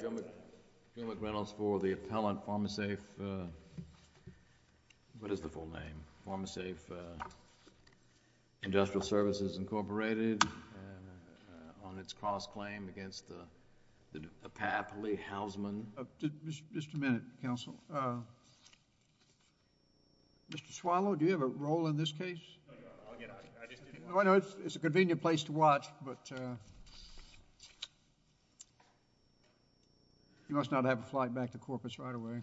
General McReynolds for the appellant Pharma Safe, what is the full name, Pharma Safe Industrial Services Incorporated on its cross-claim against the PAP Lee Housman. Just a minute counsel. Mr. Swallow, do you have a role in this case? I know it's a convenient place to watch, but you must not have a flight back to Corpus right away.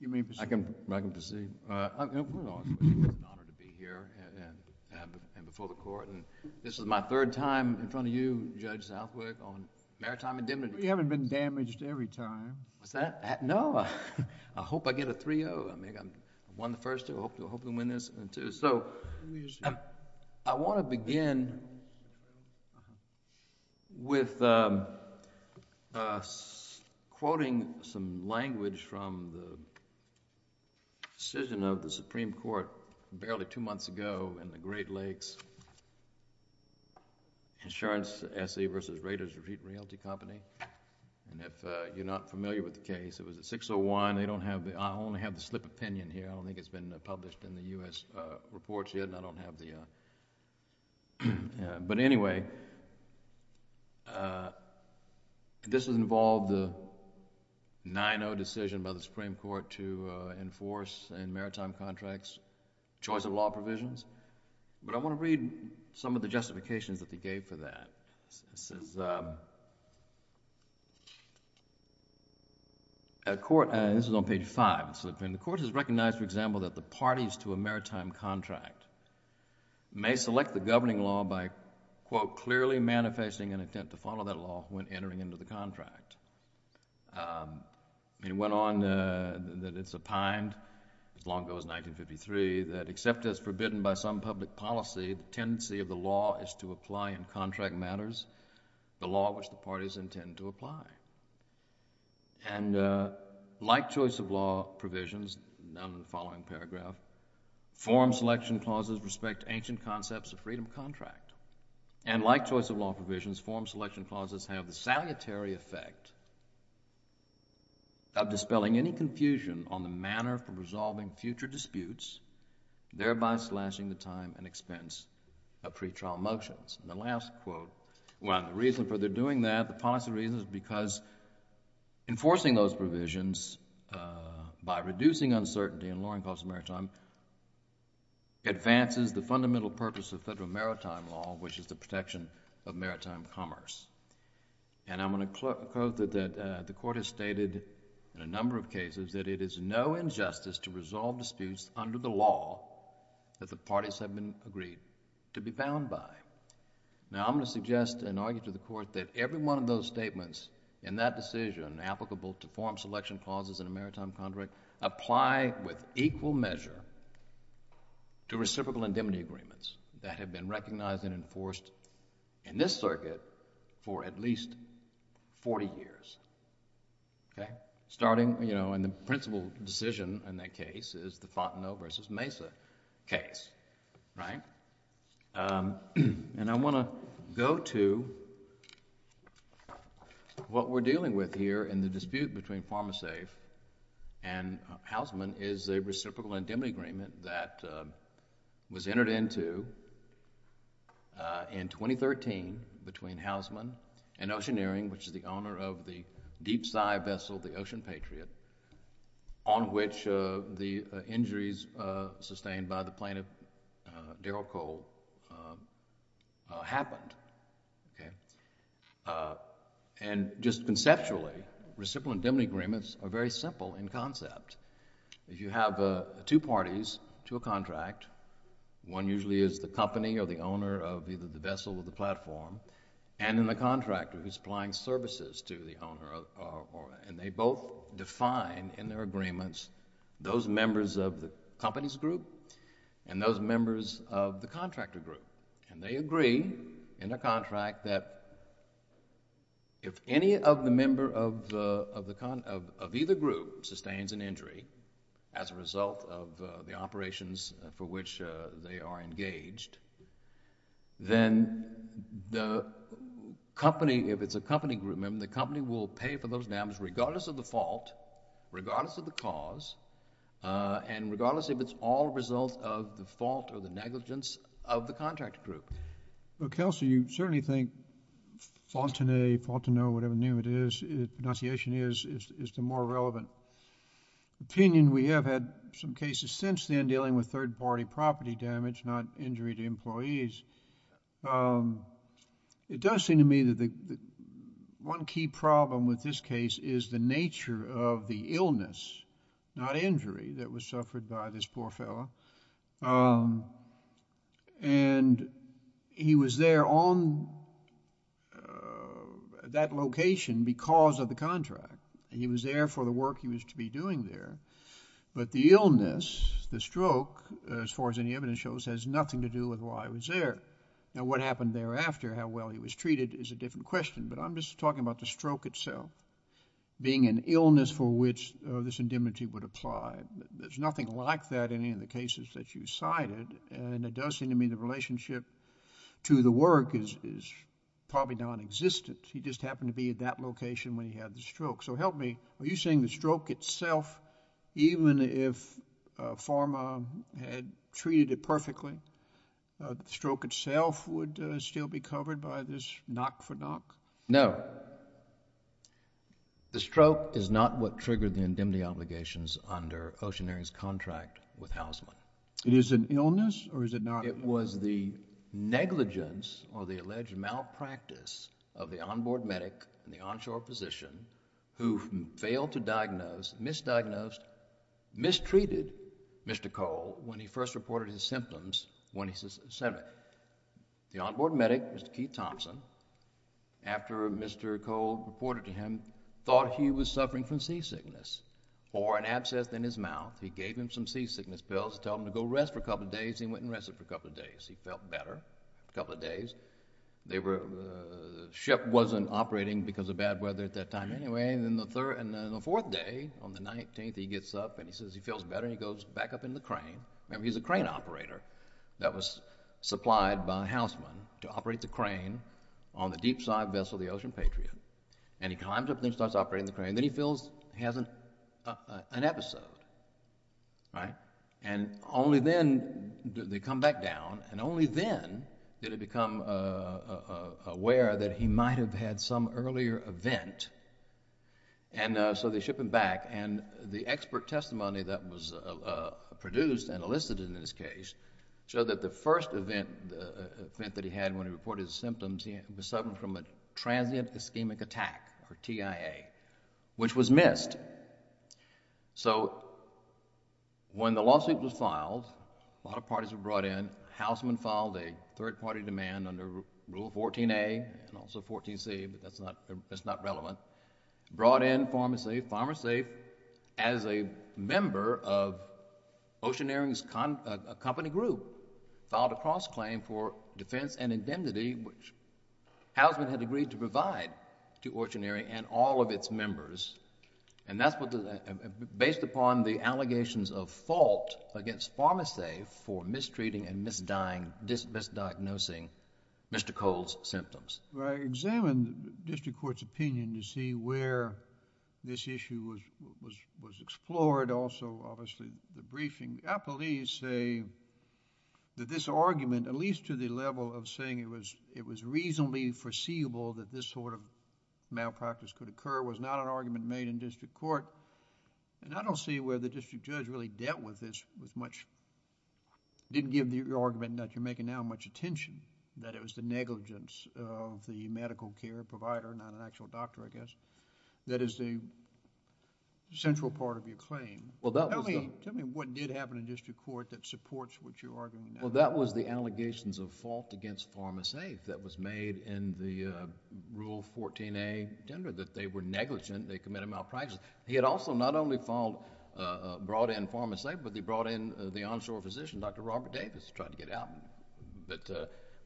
You may proceed. I can proceed. It's an honor to be here and before the court. This is my third time in front of you, Judge Southwick, on maritime indemnity. You haven't been damaged every time. What's that? No, I hope I get a 3-0. I won the first two. I hope to win this. I want to begin with quoting some language from the decision of the Supreme Court barely two months ago in the Great Lakes Insurance Assay v. Raiders Repeat Realty Company. If you're not familiar with the case, it was a 6-0-1. I only have the slip opinion here. I don't think it's been published in the U.S. reports yet. But anyway, this involved the 9-0 decision by the Supreme Court to enforce in maritime contracts choice of law provisions. But I want to read some of the justifications that this is on page 5. The court has recognized, for example, that the parties to a maritime contract may select the governing law by, quote, clearly manifesting an intent to follow that law when entering into the contract. It went on that it's opined, as long ago as 1953, that except as the law which the parties intend to apply. And like choice of law provisions, down in the following paragraph, forum selection clauses respect ancient concepts of freedom of contract. And like choice of law provisions, forum selection clauses have the salutary effect of dispelling any confusion on the manner for resolving future disputes, thereby slashing the time and expense of pretrial motions. And the last quote, well, the reason for their doing that, the policy reasons, because enforcing those provisions by reducing uncertainty and lowering cost of maritime, advances the fundamental purpose of federal maritime law, which is the protection of maritime commerce. And I'm going to quote that the court has stated in a number of cases that it is no injustice to resolve disputes under the law that the parties have been agreed to be bound by. Now, I'm going to suggest and argue to the court that every one of those statements in that decision, applicable to forum selection clauses in a maritime contract, apply with equal measure to reciprocal indemnity agreements that have been recognized and enforced in this circuit for at least 40 years. Okay? Starting, you know, in the principal decision in that case is the Fontenot versus Mesa case, right? And I want to go to what we're dealing with here in the dispute between PharmaSafe and Hausman is a reciprocal indemnity agreement that was entered into in 2013 between Hausman and Oceaneering, which is the owner of the deep side vessel, the Ocean Patriot, on which the injuries sustained by the plaintiff, Daryl Cole, happened. Okay? And just conceptually, reciprocal indemnity agreements are very simple in concept. If you have two parties to a contract, one usually is the company or the owner of either the vessel or the platform, and in the contractor who's supplying services to the owner, and they both define in their agreements those members of the company's group and those members of the contractor group. And they agree in a contract that if any of the member of either group sustains an injury as a result of the operations for which they are engaged, then the company, if it's a company group member, the company will pay for those damages regardless of the fault, regardless of the cause, and regardless if it's all a result of the fault or the negligence of the contractor group. Well, Kelsey, you certainly think Fontenay, Fontenot, whatever name it is, pronunciation is, is the more relevant opinion. We have had some cases since then dealing with third-party property damage, not injury to employees. It does seem to me that the one key problem with this case is the nature of the illness, not injury, that was suffered by this poor fellow. And he was there on that location because of the contract. He was there for the work he was to be doing there, but the illness, the stroke, as far as any evidence shows, has nothing to do with why he was there. Now, what happened thereafter, how well he was treated is a different question, but I'm just talking about the stroke itself, being an illness for which this indemnity would apply. There's nothing like that in any of the cases that you cited, and it does seem to me the relationship to the work is probably non-existent. He just happened to be at that location when he had the stroke. So help me, are you saying the stroke itself, even if Pharma had treated it perfectly, the stroke itself would still be covered by this knock-for-knock? No. The stroke is not what triggered the indemnity obligations under Oceanair's contract with Hausman. It is an illness or is it not? It was the negligence or the alleged malpractice of the on-board medic in the onshore position who failed to diagnose, misdiagnosed, mistreated Mr. Cole when he first reported his symptoms. The on-board medic, Mr. Keith Thompson, after Mr. Cole reported to him, thought he was suffering from seasickness or an abscess in his mouth. He gave him some seasickness pills to tell him to go rest for a couple of days. He felt better for a couple of days. The ship wasn't operating because of bad weather at that time anyway, and then the fourth day, on the 19th, he gets up and he says he feels better. He goes back up in the crane. Remember, he's a crane operator that was supplied by Hausman to operate the crane on the deep side vessel, the Ocean Patriot, and he climbs up and starts operating the crane. Then he feels he has an episode, right? Only then, they come back down, and only then did he become aware that he might have had some earlier event, and so they ship him back. The expert testimony that was produced and elicited in this case showed that the first event that he had when he reported his symptoms, he was suffering from a transient ischemic attack or TIA, which was missed. So when the lawsuit was filed, a lot of parties were brought in. Hausman filed a third-party demand under Rule 14a and also 14c, but that's not relevant. Brought in PharmaSafe. PharmaSafe, as a member of Oceaneering's company group, filed a cross-claim for defense and indemnity, which Hausman had agreed to provide to Oceaneering and all of its members, and that's based upon the allegations of fault against PharmaSafe for mistreating and misdiagnosing Mr. Cole's symptoms. I examined the district court's opinion to see where this issue was explored. Also, obviously, the briefing. Appellees say that this argument, at least to the level of saying it was reasonably foreseeable that this sort of malpractice could occur, was not an argument made in district court, and I don't see where the district judge really dealt with this with much... didn't give the argument that you're making now much attention, that it was the negligence of the medical care provider, not an actual doctor, I guess, that is the central part of your claim. Tell me what did happen in district court that supports what you're arguing now. Well, that was the allegations of fault against PharmaSafe that was made in the Rule 14a, gender, that they were negligent, they committed malpractice. He had also not only brought in PharmaSafe, but he brought in the onshore physician, Dr. Robert Davis, to try to get out. But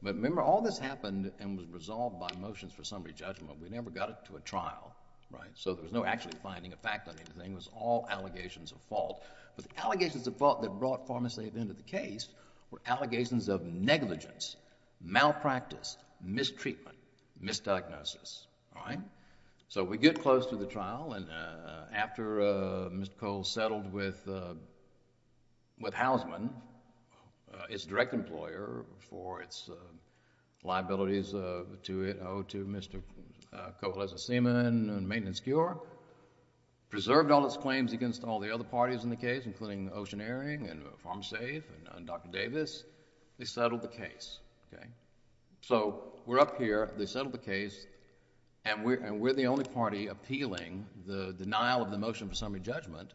remember, all this happened and was resolved by motions for summary judgment. We never got to a trial, right? So there was no actually finding a fact on anything. It was all allegations of fault. But the allegations of fault that brought PharmaSafe into the case were allegations of negligence, malpractice, mistreatment, misdiagnosis, all right? So we get close to the trial and after Mr. Cole settled with Housman, his direct employer, for its liabilities to Mr. Cole as a seaman and maintenance cure, preserved all its claims against all the other parties in the case, including Ocean Airing and PharmaSafe and Dr. Davis, they settled the case, okay? So we're up here, they settled the case, and we're the only party appealing the denial of the motion for summary judgment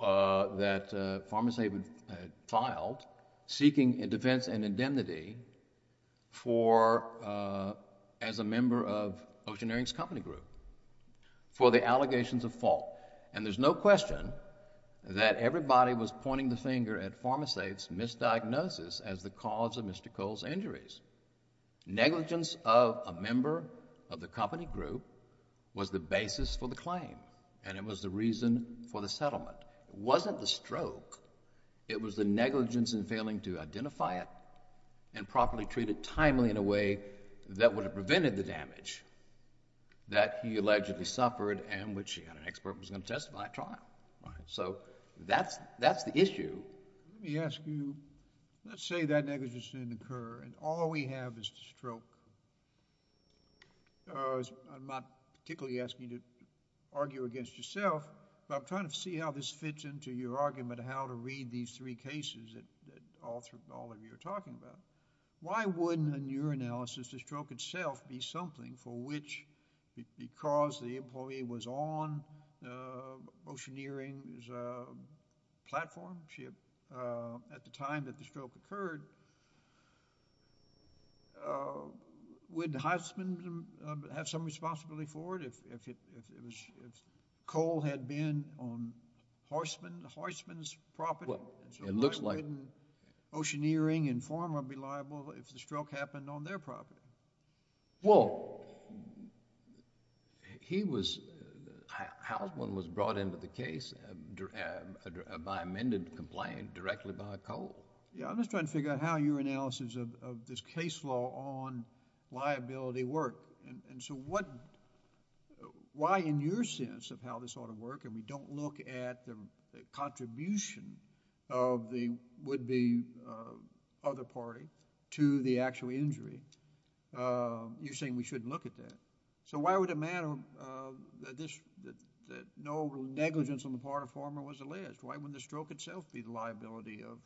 that PharmaSafe had filed seeking a defense and indemnity for, uh, as a member of Ocean Airing's company group for the allegations of fault. And there's no question that everybody was pointing the finger at PharmaSafe's misdiagnosis as the cause of Mr. Cole's injuries. Negligence of a member of the company group was the basis for the claim and it was the reason for the settlement. It wasn't the stroke, it was the negligence in failing to that would have prevented the damage that he allegedly suffered and which an expert was going to testify at trial. So that's the issue. Let me ask you, let's say that negligence didn't occur and all we have is the stroke. I'm not particularly asking you to argue against yourself, but I'm trying to see how this fits into your argument of how to read these three cases that all of you are talking about. Why wouldn't, in your analysis, the stroke itself be something for which, because the employee was on Ocean Airing's platform, at the time that the stroke occurred, would Heisman have some responsibility for it if Cole had been on Heisman's property? So why wouldn't Ocean Airing and Pharma be liable if the stroke happened on their property? Well, Heisman was brought into the case by amended complaint directly by Cole. Yeah, I'm just trying to figure out how your analysis of this case law on liability worked. And so why, in your sense, of how this ought to work, and we don't look at the contribution of the would-be other party to the actual injury, you're saying we shouldn't look at that. So why would it matter that no negligence on the part of Pharma was alleged? Why wouldn't the stroke itself be the liability of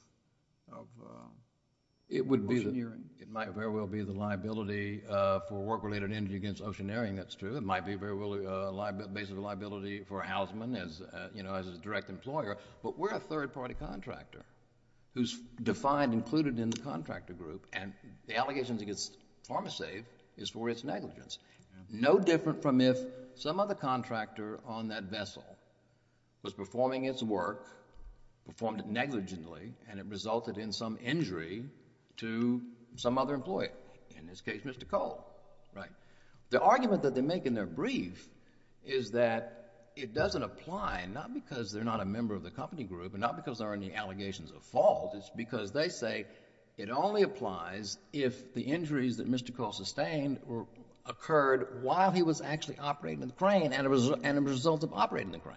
Ocean Airing? It might very well be the liability for work-related injury against Ocean Airing, that's true. It might be very well the basic liability for Heisman as a direct employer. But we're a third-party contractor who's defined, included in the contractor group, and the allegations against PharmaSafe is for its negligence. No different from if some other contractor on that vessel was performing its work, performed it negligently, and it resulted in some injury to some other employer, in this case Mr. Cole, right? The argument that they make in their brief is that it doesn't apply, not because they're not a member of the company group, and not because there aren't any allegations of fault, it's because they say it only applies if the injuries that Mr. Cole sustained occurred while he was actually operating the crane, and as a result of operating the crane.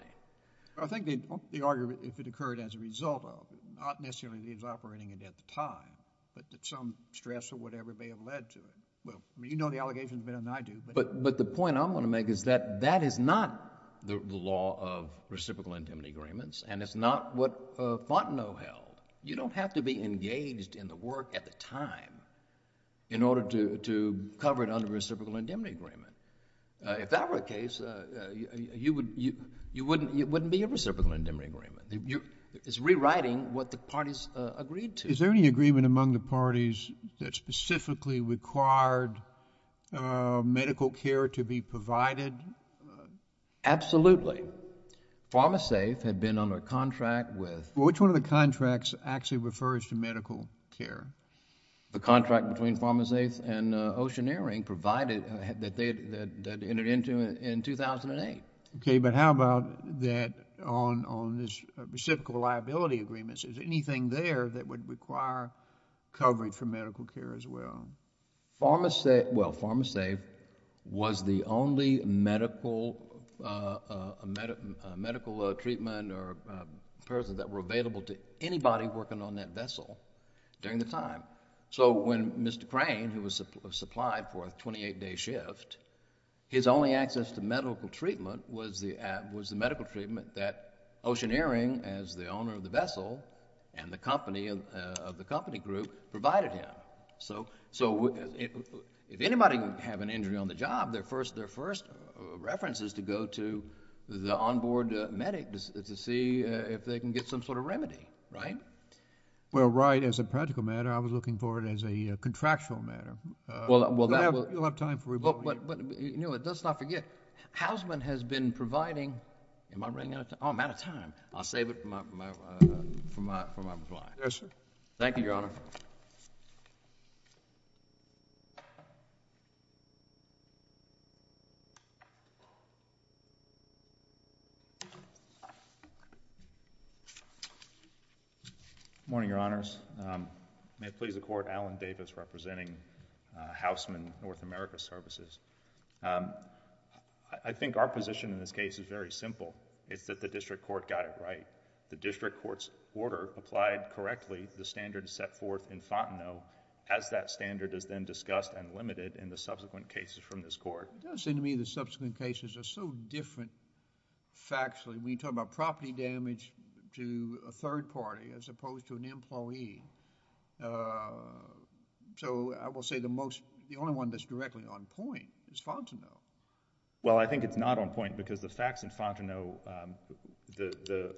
I think the argument, if it occurred as a result of, not necessarily that he was operating it at the time, but that some stress or whatever may have led to it. Well, you know the allegations better than I do. But the point I'm going to make is that that is not the law of reciprocal indemnity agreements, and it's not what Fontenot held. You don't have to be engaged in the work at the time in order to cover it under a reciprocal indemnity agreement. If that were the case, it wouldn't be a reciprocal indemnity agreement. It's rewriting what the parties agreed to. Is there any agreement among the parties that specifically required medical care to be provided? Absolutely. PharmaSafe had been under a contract with... Well, which one of the contracts actually refers to medical care? The contract between PharmaSafe and Oceaneering that entered into in 2008. Okay, but how about that on this reciprocal liability agreement? Is there anything there that would require coverage for medical care as well? Well, PharmaSafe was the only medical treatment or person that were available to anybody working on that vessel during the time. So when Mr. Crane, who was supplied for a 28-day shift, his only access to medical treatment was the medical treatment that Oceaneering, as the owner of the vessel and the company of the company group, provided him. So if anybody would have an injury on the job, their first reference is to go to the on-board medic to see if they can get some remedy, right? Well, right. As a practical matter, I was looking for it as a contractual matter. You'll have time for rebuttal. But let's not forget, Hausman has been providing... Am I running out of time? Oh, I'm out of time. I'll save it for my reply. Yes, sir. Thank you, Your Honor. Good morning, Your Honors. May it please the Court, Alan Davis representing Hausman North America Services. I think our position in this case is very simple. It's that the district court got it right. The district court's order applied correctly to the standards set forth in Fontenot as that standard is then discussed and limited in the subsequent cases from this Court. It does seem to me the subsequent cases are so different factually. We talk about property damage to a third party as opposed to an employee. So I will say the only one that's directly on point is Fontenot. Well, I think it's not on point because the facts in Fontenot, the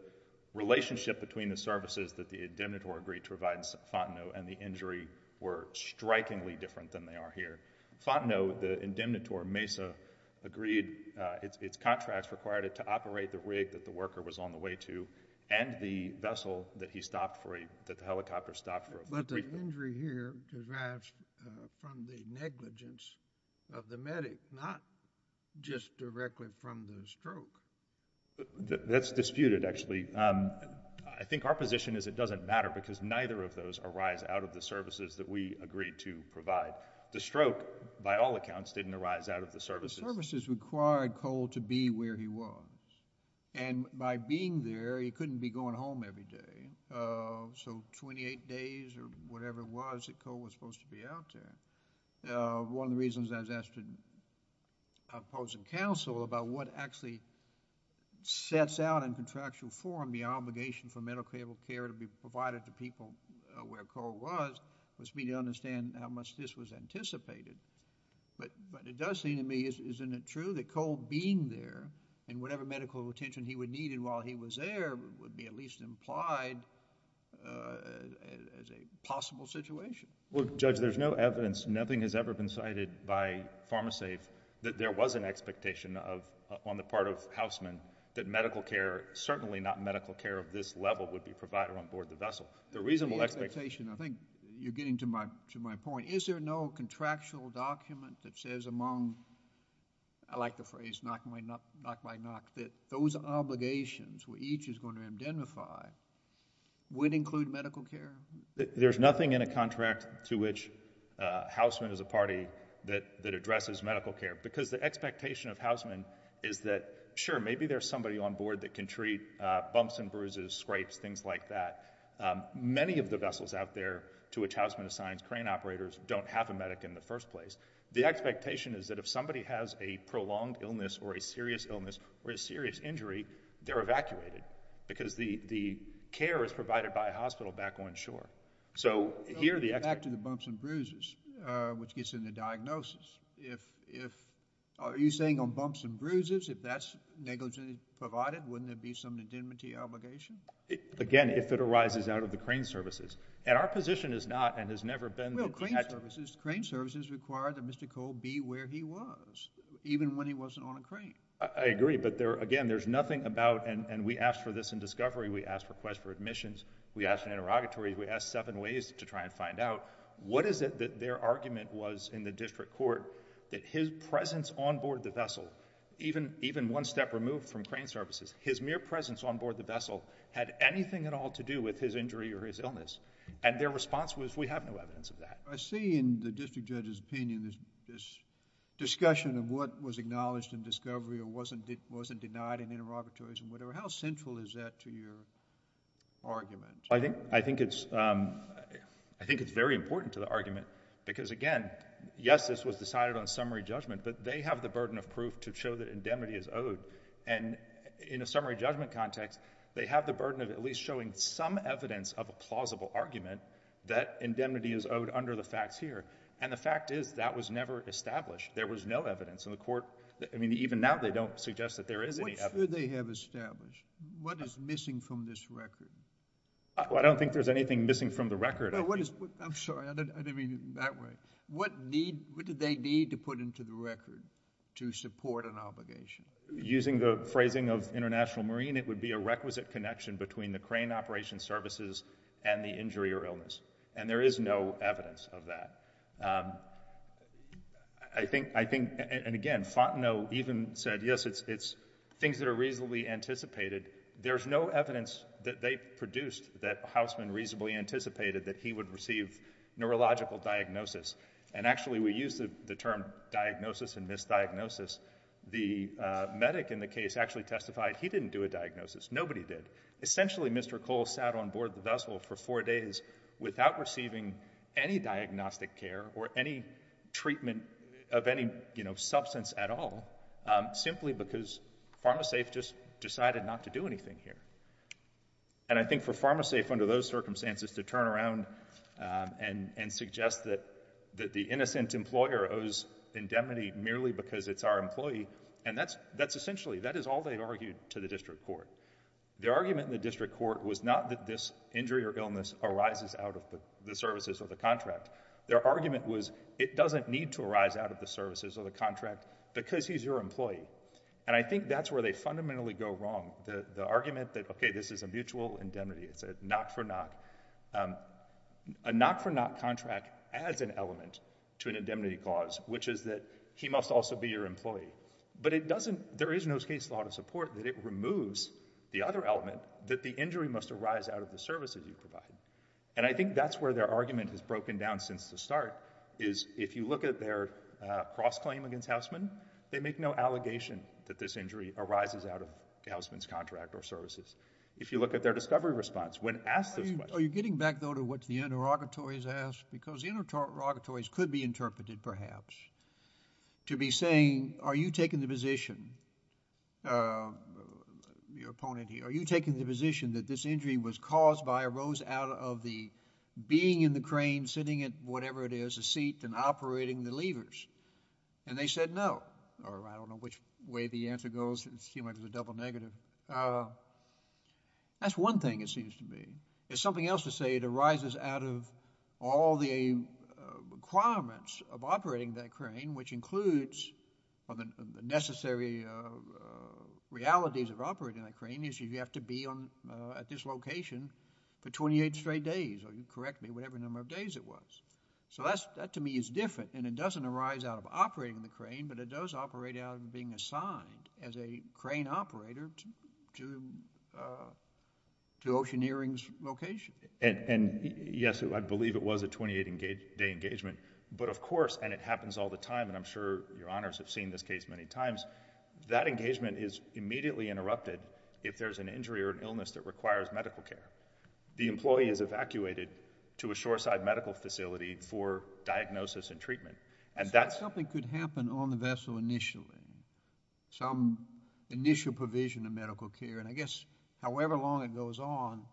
relationship between the services that the indemnitor agreed to provide in Fontenot and the injury were strikingly different than they are here. Fontenot, the indemnitor, Mesa, agreed... Its contracts required it to operate the rig that the worker was on the way to and the vessel that he stopped for a... that the helicopter stopped for a... But the injury here derives from the negligence of the medic, not just directly from the stroke. That's disputed, actually. I think our position is it doesn't matter because neither of those arise out of the services that we agreed to provide. The stroke, by all accounts, didn't arise out of the services. The services required Cole to be where he was. And by being there, he couldn't be going home every day. So 28 days or whatever it was that Cole was supposed to be out there. One of the reasons I was asked to oppose and counsel about what actually sets out in contractual form the obligation for medical care to be provided to people where Cole was, was for me to understand how much this was anticipated. But it does seem to me, isn't it true, that Cole being there and whatever medical attention he would need while he was there would be at least implied as a possible situation? Well, Judge, there's no evidence, nothing has ever been cited by PharmaSafe that there was an expectation of, on the part of Houseman, that certainly not medical care of this level would be provided on board the vessel. The reasonable expectation... The expectation, I think you're getting to my point. Is there no contractual document that says among, I like the phrase, knock by knock, that those obligations, which each is going to identify, would include medical care? There's nothing in a contract to which Houseman is a party that addresses medical care. Because the expectation of Houseman is that, maybe there's somebody on board that can treat bumps and bruises, scrapes, things like that. Many of the vessels out there to which Houseman assigns crane operators don't have a medic in the first place. The expectation is that if somebody has a prolonged illness or a serious illness or a serious injury, they're evacuated because the care is provided by a hospital back on shore. So here the... Back to the bumps and bruises, which gets into diagnosis. If... Are you saying on bumps and bruises, if that's negligently provided, wouldn't there be some indemnity obligation? Again, if it arises out of the crane services. And our position is not and has never been... Well, crane services, crane services require that Mr. Cole be where he was, even when he wasn't on a crane. I agree, but there, again, there's nothing about, and we asked for this in discovery, we asked for requests for admissions, we asked in interrogatory, we asked seven ways to try and find out. What is it that their argument was in the district court that his presence on board the vessel, even one step removed from crane services, his mere presence on board the vessel had anything at all to do with his injury or his illness. And their response was, we have no evidence of that. I see in the district judge's opinion this discussion of what was acknowledged in discovery or wasn't denied in interrogatories and whatever. How central is that to your because, again, yes, this was decided on summary judgment, but they have the burden of proof to show that indemnity is owed. And in a summary judgment context, they have the burden of at least showing some evidence of a plausible argument that indemnity is owed under the facts here. And the fact is, that was never established. There was no evidence in the court. I mean, even now, they don't suggest that there is any evidence. What should they have established? What is missing from this record? I don't think there's anything missing from the record. I'm sorry. I didn't mean it that way. What did they need to put into the record to support an obligation? Using the phrasing of International Marine, it would be a requisite connection between the crane operation services and the injury or illness. And there is no evidence of that. I think, and again, Fontenot even said, yes, it's things that are reasonably anticipated. There's no evidence that they produced that Houseman reasonably anticipated that he would receive neurological diagnosis. And actually, we use the term diagnosis and misdiagnosis. The medic in the case actually testified he didn't do a diagnosis. Nobody did. Essentially, Mr. Cole sat on board the vessel for four days without receiving any diagnostic care or any treatment of any substance at all, simply because PharmaSafe just decided not to do anything here. And I think for PharmaSafe under those circumstances to turn around and suggest that the innocent employer owes indemnity merely because it's our employee, and that's essentially, that is all they argued to the district court. Their argument in the district court was not that this injury or illness arises out of the services or the contract. Their argument was it doesn't need to arise out of the services or the contract because he's your employee. And I think that's where they fundamentally go wrong. The argument that, OK, this is a mutual indemnity. It's a knock for knock. A knock for knock contract adds an element to an indemnity clause, which is that he must also be your employee. But it doesn't, there is no case law to support that it removes the other element that the injury must arise out of the services you provide. And I think that's where their argument has broken down since the start, is if you look at their cross-claim against Houseman, they make no allegation that this injury arises out of Houseman's contract or services. If you look at their discovery response, when asked those questions— Are you getting back, though, to what the interrogatories asked? Because the interrogatories could be interpreted, perhaps, to be saying, are you taking the position, your opponent here, are you taking the position that this injury was caused by a rose out of the being in the crane, sitting in whatever it is, a seat, and operating the levers? And they said no. Or I don't know which way the answer goes. It seemed like it was a double negative. That's one thing, it seems to me. It's something else to say it arises out of all the requirements of operating that crane, which includes the necessary realities of operating that crane, is you have to be at this location for 28 straight days, or you can correct me, whatever number of days it was. So that to me is different, and it doesn't arise out of operating the crane, but it does operate out of being assigned as a crane operator to Oceaneering's location. And yes, I believe it was a 28-day engagement, but of course, and it happens all the time, and I'm sure your honors have seen this case many times, that engagement is immediately interrupted if there's an injury or an illness that requires medical care. The employee is evacuated to a shoreside medical facility for diagnosis and treatment. Something could happen on the vessel initially, some initial provision of medical care, and I guess however long it goes on,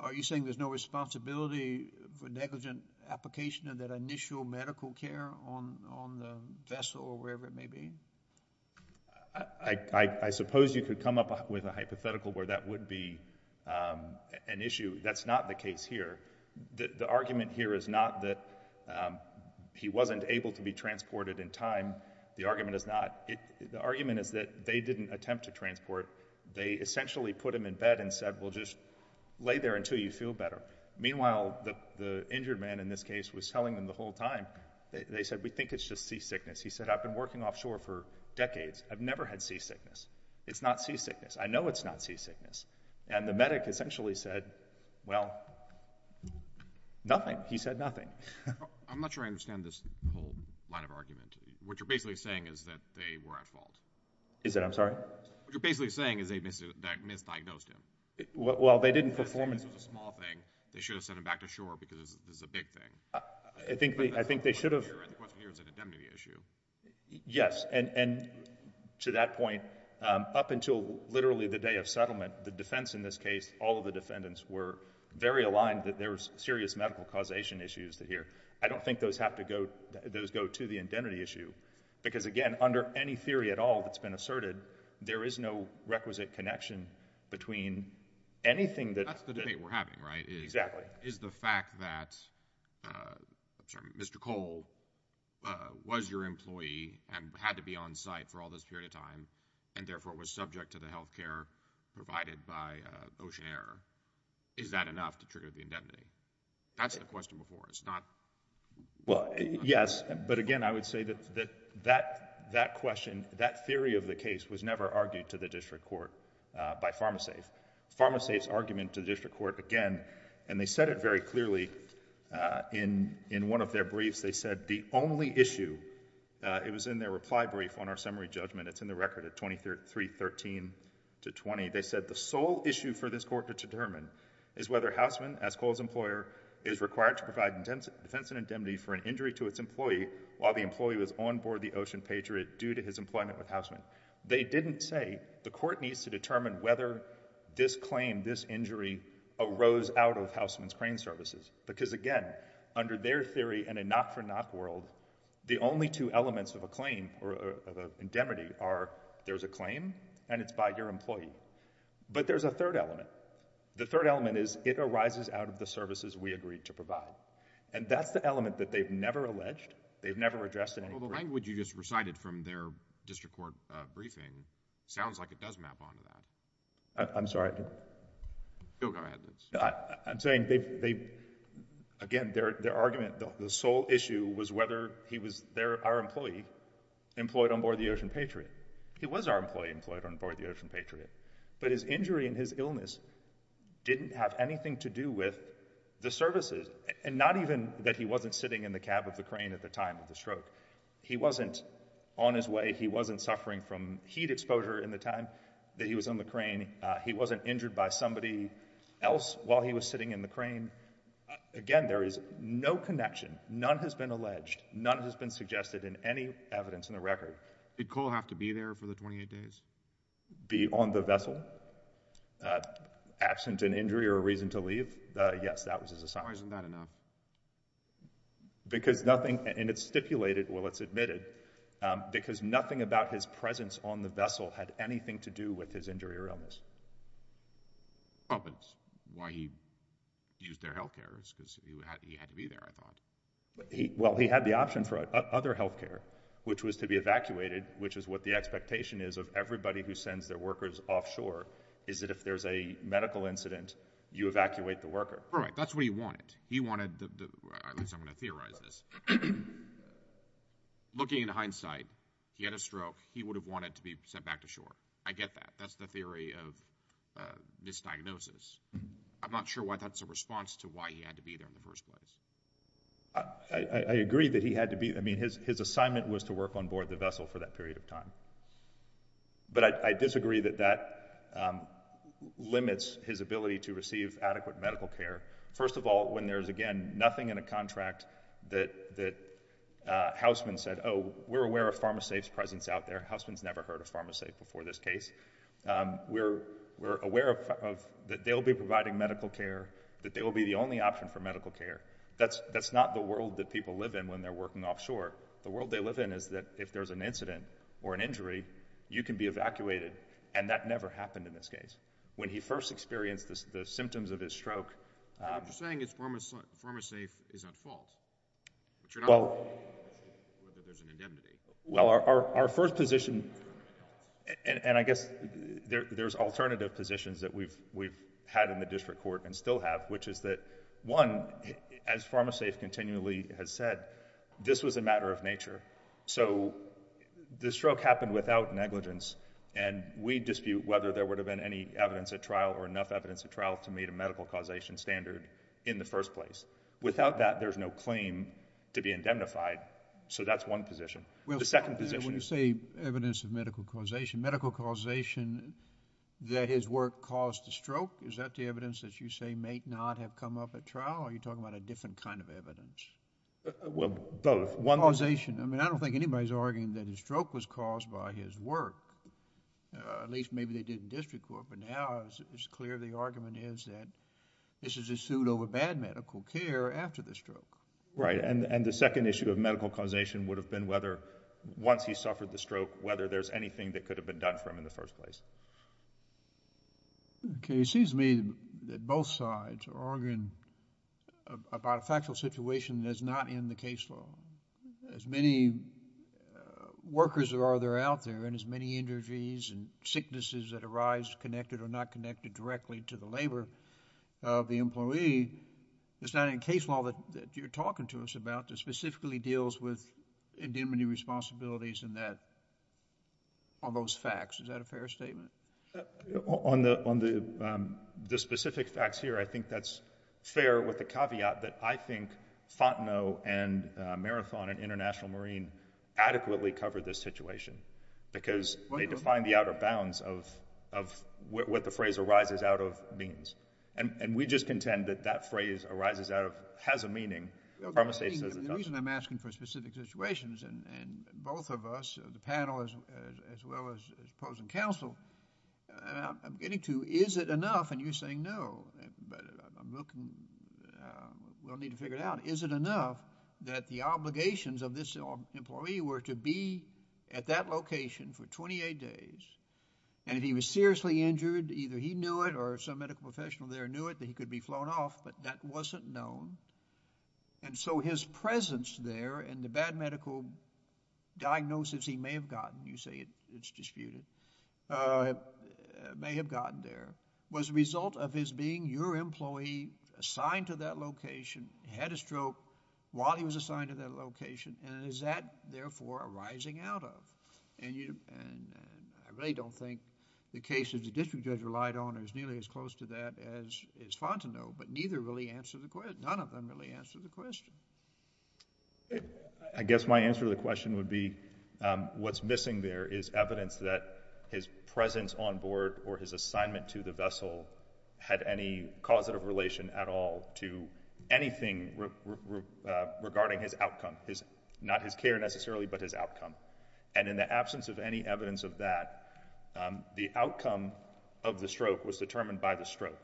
are you saying there's no responsibility for negligent application of that initial medical care on the vessel or wherever it may be? I suppose you could come up with a hypothetical where that would be an issue. That's not the case here. The argument here is not that he wasn't able to be transported in time. The argument is not. The argument is that they didn't attempt to transport. They essentially put him in bed and said, well, just lay there until you feel better. Meanwhile, the injured man in this case was telling them the whole time. They said, we think it's just seasickness. He said, I've been working offshore for decades. I've never had seasickness. It's not seasickness. And the medic essentially said, well, nothing. He said nothing. I'm not sure I understand this whole line of argument. What you're basically saying is that they were at fault. Is it? I'm sorry. What you're basically saying is they misdiagnosed him. Well, they didn't perform. This was a small thing. They should have sent him back to shore because this is a big thing. I think they should have. Yes. And to that point, up until literally the day of settlement, the defense in this case, all of the defendants were very aligned that there was serious medical causation issues here. I don't think those have to go, those go to the indemnity issue. Because again, under any theory at all that's been asserted, there is no requisite connection between anything That's the debate we're having, right? Exactly. Is the fact that Mr. Cole was your employee and had to be on site for all this period of time and therefore was subject to the health care provided by Ocean Air, is that enough to trigger the indemnity? That's the question before us. Well, yes. But again, I would say that that question, that theory of the case was never argued to the district court by PharmaSafe. PharmaSafe's argument to the district court, again, and they said it very clearly in one of their briefs, they said the only issue, it was in their reply brief on our summary judgment, it's in the record at 2313-20, they said the sole issue for this court to determine is whether Houseman, as Cole's employer, is required to provide defense and indemnity for an injury to its employee while the employee was court needs to determine whether this claim, this injury arose out of Houseman's Crane Services. Because again, under their theory in a knock for knock world, the only two elements of a claim or of an indemnity are there's a claim and it's by your employee. But there's a third element. The third element is it arises out of the services we agreed to provide. And that's the element that they've never alleged, they've never addressed in any way. Well, the language you just recited from their district court briefing sounds like it does map on to that. I'm sorry. Go ahead. I'm saying they've, again, their argument, the sole issue was whether he was there, our employee, employed on board the Ocean Patriot. He was our employee employed on board the Ocean Patriot. But his injury and his illness didn't have anything to do with the services. And not even that he wasn't sitting in the cab of the crane at the time of the stroke. He wasn't on his way. He wasn't suffering from heat exposure in the time that he was on the crane. He wasn't injured by somebody else while he was sitting in the crane. Again, there is no connection. None has been alleged. None has been suggested in any evidence in the record. Did Cole have to be there for the 28 days? Be on the vessel, absent an injury or a reason to leave? Yes, that was his assignment. Why isn't that enough? Because nothing, and it's stipulated, well, it's admitted, because nothing about his presence on the vessel had anything to do with his injury or illness. Oh, but why he used their healthcare is because he had to be there, I thought. Well, he had the option for other healthcare, which was to be evacuated, which is what the expectation is of everybody who sends their workers offshore, is that if there's a medical incident, you evacuate the worker. That's what he wanted. He wanted, at least I'm going to theorize this, looking at hindsight, he had a stroke. He would have wanted to be sent back to shore. I get that. That's the theory of misdiagnosis. I'm not sure why that's a response to why he had to be there in the first place. I agree that he had to be, I mean, his assignment was to work on board the vessel for that period of time. But I disagree that that limits his ability to receive adequate medical care. First of all, when there's, again, nothing in a contract that Houseman said, oh, we're aware of PharmaSafe's presence out there. Houseman's never heard of PharmaSafe before this case. We're aware that they'll be providing medical care, that they will be the only option for medical care. That's not the world that people live in when they're working offshore. The world they live in is that if there's an incident or an injury, you can be evacuated, and that never happened in this case. When he first experienced the symptoms of his stroke... You're saying PharmaSafe is at fault, but you're not saying whether there's an indemnity. Well, our first position, and I guess there's alternative positions that we've had in the district court and still have, which is that, one, as PharmaSafe continually has said, this was a dispute, whether there would have been any evidence at trial or enough evidence at trial to meet a medical causation standard in the first place. Without that, there's no claim to be indemnified. So that's one position. The second position is... When you say evidence of medical causation, medical causation that his work caused the stroke, is that the evidence that you say may not have come up at trial, or are you talking about a different kind of evidence? Well, both. Causation. I mean, I don't think anybody's arguing that his stroke was caused by his work. At least maybe they did in district court, but now it's clear the argument is that this is a suit over bad medical care after the stroke. Right. And the second issue of medical causation would have been whether, once he suffered the stroke, whether there's anything that could have been done for him in the first place. Okay. It seems to me that both sides are arguing about a factual situation that is not in the case law. As many workers as there are out there, and as many injuries and sicknesses that arise connected or not connected directly to the labor of the employee, it's not in the case law that you're talking to us about that specifically deals with indemnity responsibilities on those facts. Is that a fair statement? On the specific facts here, I think that's fair with the caveat that I think Fontenot and Marathon and International Marine adequately covered this situation because they defined the outer bounds of what the phrase arises out of means. And we just contend that that phrase arises out of, has a meaning. The reason I'm asking for specific situations, and both of us, the panel as well as opposing counsel, I'm getting to, is it enough, and you're saying no, but I'm looking, we'll need to figure it out. Is it enough that the obligations of this employee were to be at that location for 28 days, and if he was seriously injured, either he knew it or some medical professional there knew it, that he could be flown off, but that wasn't known. And so his presence there and the bad medical diagnosis he may have gotten, you say it's disputed, may have gotten there, was a result of his being your employee assigned to that location, had a stroke while he was assigned to that location, and is that therefore arising out of? And I really don't think the case that the district judge relied on is nearly as close to that as is fond to know, but neither really answer the question, none of them really answer the question. I guess my answer to the question would be what's missing there is evidence that his presence on board or his assignment to the vessel had any causative relation at all to anything regarding his outcome, not his care necessarily, but his outcome. And in the absence of any evidence of that, the outcome of the stroke was determined by the stroke.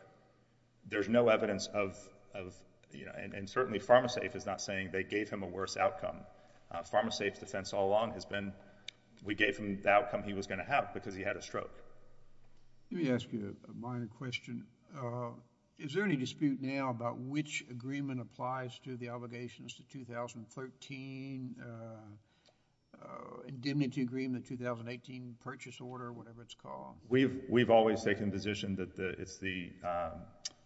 There's no evidence of, you know, and certainly PharmaSafe is not saying they gave him a worse outcome. PharmaSafe's defense all along has been we gave him the outcome he was going to have because he had a stroke. Let me ask you a minor question. Is there any dispute now about which agreement applies to the obligations to 2013 indemnity agreement, the 2018 purchase order, whatever it's called? We've always taken the position that it's the,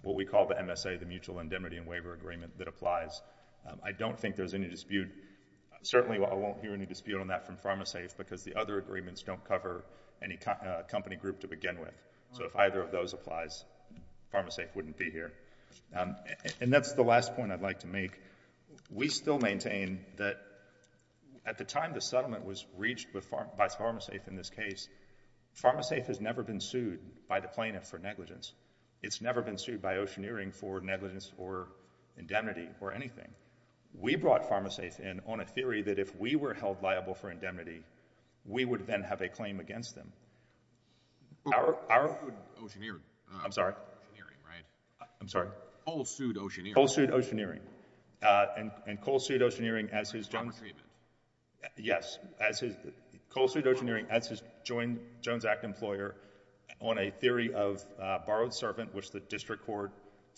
what we call the MSA, the mutual indemnity and waiver agreement that applies. I don't think there's any dispute, certainly I won't hear any dispute on that from PharmaSafe because the other agreements don't cover any company group to begin with. So if either of those applies, PharmaSafe wouldn't be here. And that's the last point I'd like to make. We still maintain that at the time the settlement was reached by PharmaSafe in this case, PharmaSafe has never been sued by the plaintiff for negligence. It's never been sued by Oceaneering for negligence or indemnity or anything. We brought PharmaSafe in on a theory that if we were held liable for indemnity, we would then have a claim against them. Coal sued Oceaneering. I'm sorry. I'm sorry. Coal sued Oceaneering. Coal sued Oceaneering. Uh, and, and Coal sued Oceaneering as his. Yes, as his, Coal sued Oceaneering as his joint Jones Act employer on a theory of, uh, borrowed servant, which the district court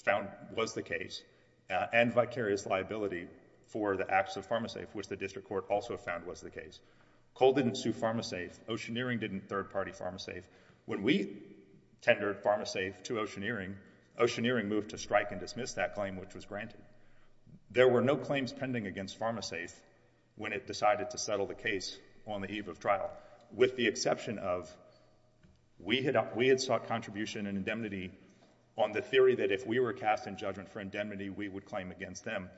found was the case, uh, and vicarious liability for the acts of PharmaSafe, which the district court also found was the case. Coal didn't sue PharmaSafe, Oceaneering didn't third party PharmaSafe. When we tendered PharmaSafe to Oceaneering, Oceaneering moved to strike and dismiss that claim, which was granted. There were no claims pending against PharmaSafe when it decided to settle the case on the eve of trial, with the exception of we had, we had sought contribution and indemnity on the theory that if we were cast in judgment for indemnity, we would claim against them.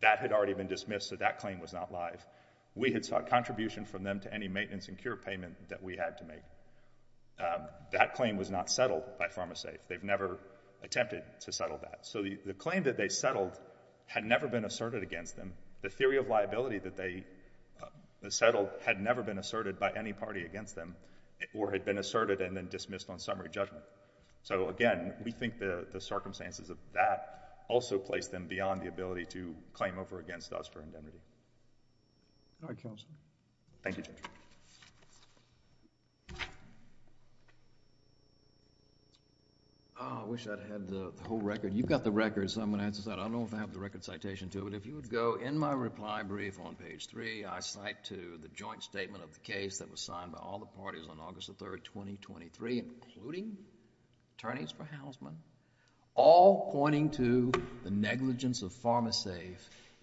That had already been dismissed. So that claim was not live. We had sought contribution from them to any maintenance and cure payment that we had to make. Um, that claim was not settled by PharmaSafe. They've never attempted to settle that. So the claim that they settled had never been asserted against them. The theory of liability that they settled had never been asserted by any party against them or had been asserted and then dismissed on summary judgment. So again, we think the circumstances of that also placed them beyond the ability to claim over against us for indemnity. All right, counsel. Thank you, Judge. Oh, I wish I'd had the whole record. You've got the record, so I'm going to answer this out. I don't know if I have the record citation to it. If you would go in my reply brief on page three, I cite to the joint statement of the case that was signed by all the parties on August the 3rd, 2023, including attorneys for Housman, all pointing to the negligence of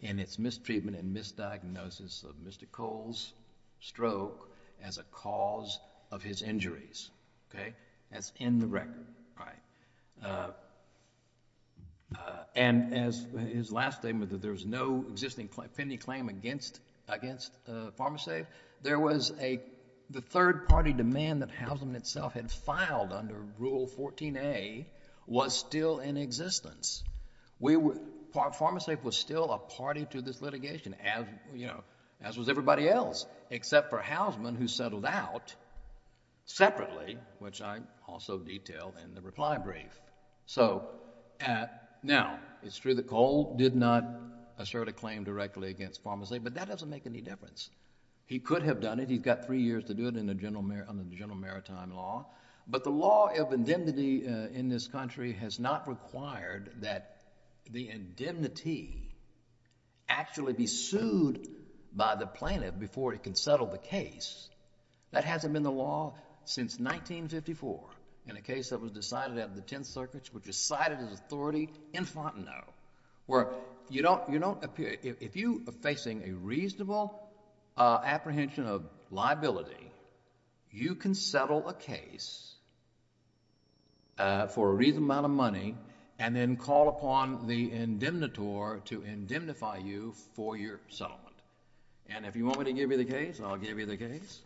its mistreatment and misdiagnosis of Mr. Cole's stroke as a cause of his injuries. Okay, that's in the record, right? And as his last statement that there was no existing pending claim against PharmaSafe, there was a, the third party demand that Housman itself had filed under Rule 14a was still in this litigation as, you know, as was everybody else, except for Housman who settled out separately, which I also detailed in the reply brief. So now, it's true that Cole did not assert a claim directly against PharmaSafe, but that doesn't make any difference. He could have done it. He's got three years to do it under the General Maritime Law, but the law of indemnity in this country has not required that the indemnity actually be sued by the plaintiff before he can settle the case. That hasn't been the law since 1954 in a case that was decided at the Tenth Circuit, which was cited as authority in Fontenot, where you don't, you don't appear, if you are facing a reasonable apprehension of liability, you can settle a case for a reasonable amount of money and then call upon the indemnitor to indemnify you for your settlement. And if you want me to give you the case, I'll give you the case.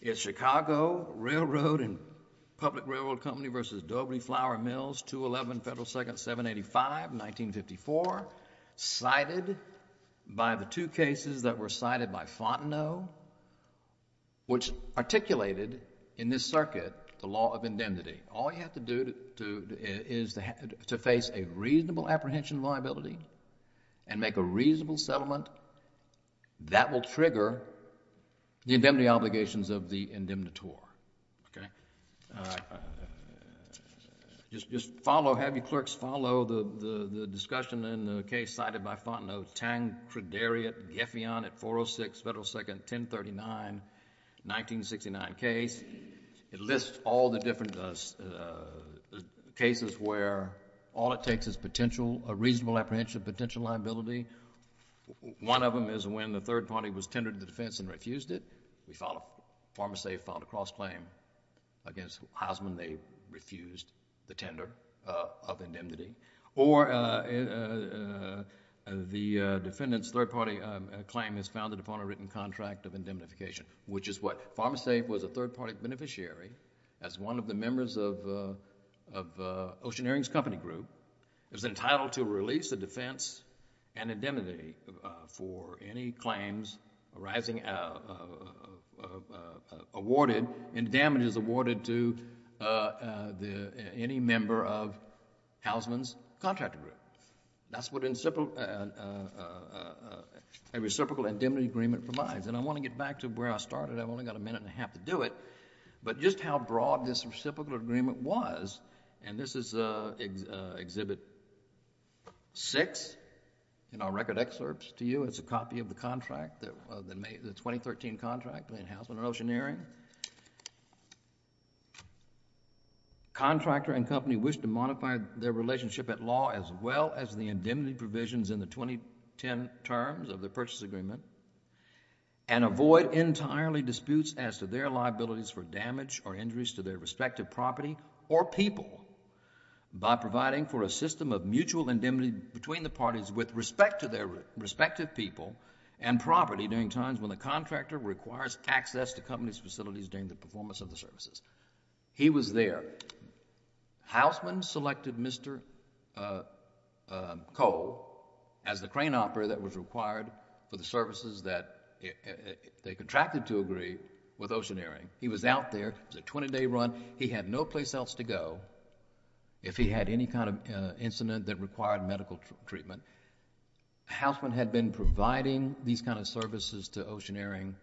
It's Chicago Railroad and Public Railroad Company versus Dobry Flower Mills, 211 Federal Second 785, 1954, cited by the two cases that were cited by Fontenot, which articulated in this circuit the law of indemnity. All you have to do is to face a reasonable apprehension of liability and make a reasonable settlement. That will trigger the indemnity obligations of the indemnitor, okay? Just follow, have your clerks follow the discussion in the case cited by Fontenot, Tang-Crederiot-Geffion at 406 Federal Second 1039, 1969 case. It lists all the different cases where all it takes is potential, a reasonable apprehension of potential liability. One of them is when the third party was tendered the defense and refused it. We found, Farmers Safe filed a cross-claim against Heisman. They refused the tender of indemnity. Or the defendant's third party claim is founded upon a written contract of indemnification, which is what? Farmers Safe was a third party beneficiary as one of the members of Ocean Earrings Company Group. It was entitled to release the defense and indemnity for any claims arising from damages awarded to any member of Heisman's contract agreement. That's what a reciprocal indemnity agreement provides. And I want to get back to where I started. I've only got a minute and a half to do it. But just how broad this reciprocal agreement was, and this is Exhibit 6 in our record excerpts to you. It's a copy of the contract, the 2013 contract between Heisman and Ocean Earring. Contractor and company wish to modify their relationship at law as well as the indemnity provisions in the 2010 terms of the purchase agreement and avoid entirely disputes as to liabilities for damage or injuries to their respective property or people by providing for a system of mutual indemnity between the parties with respect to their respective people and property during times when the contractor requires access to company's facilities during the performance of the services. He was there. Heisman selected Mr. Cole as the crane operator that was required for the services that they contracted to agree with Ocean Earring. He was out there. It was a 20-day run. He had no place else to go if he had any kind of incident that required medical treatment. Heisman had been providing these kind of services to Ocean Earring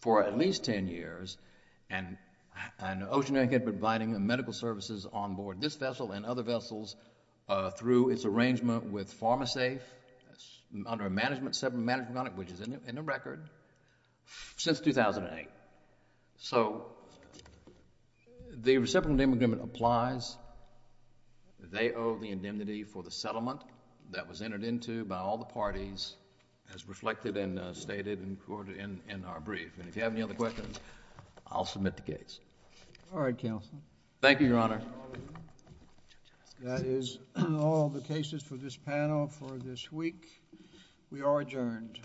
for at least 10 years, and Ocean Earring had been providing medical services on board this vessel and other vessels through its arrangement with PharmaSafe under a separate management contract, which is in the record, since 2008. So the reciprocal indemnity agreement applies. They owe the indemnity for the settlement that was entered into by all the parties as reflected and stated in our brief. And if you have any other questions, I'll submit the case. All right, counsel. Thank you, Your Honor. That is all the cases for this panel for this week. We are adjourned.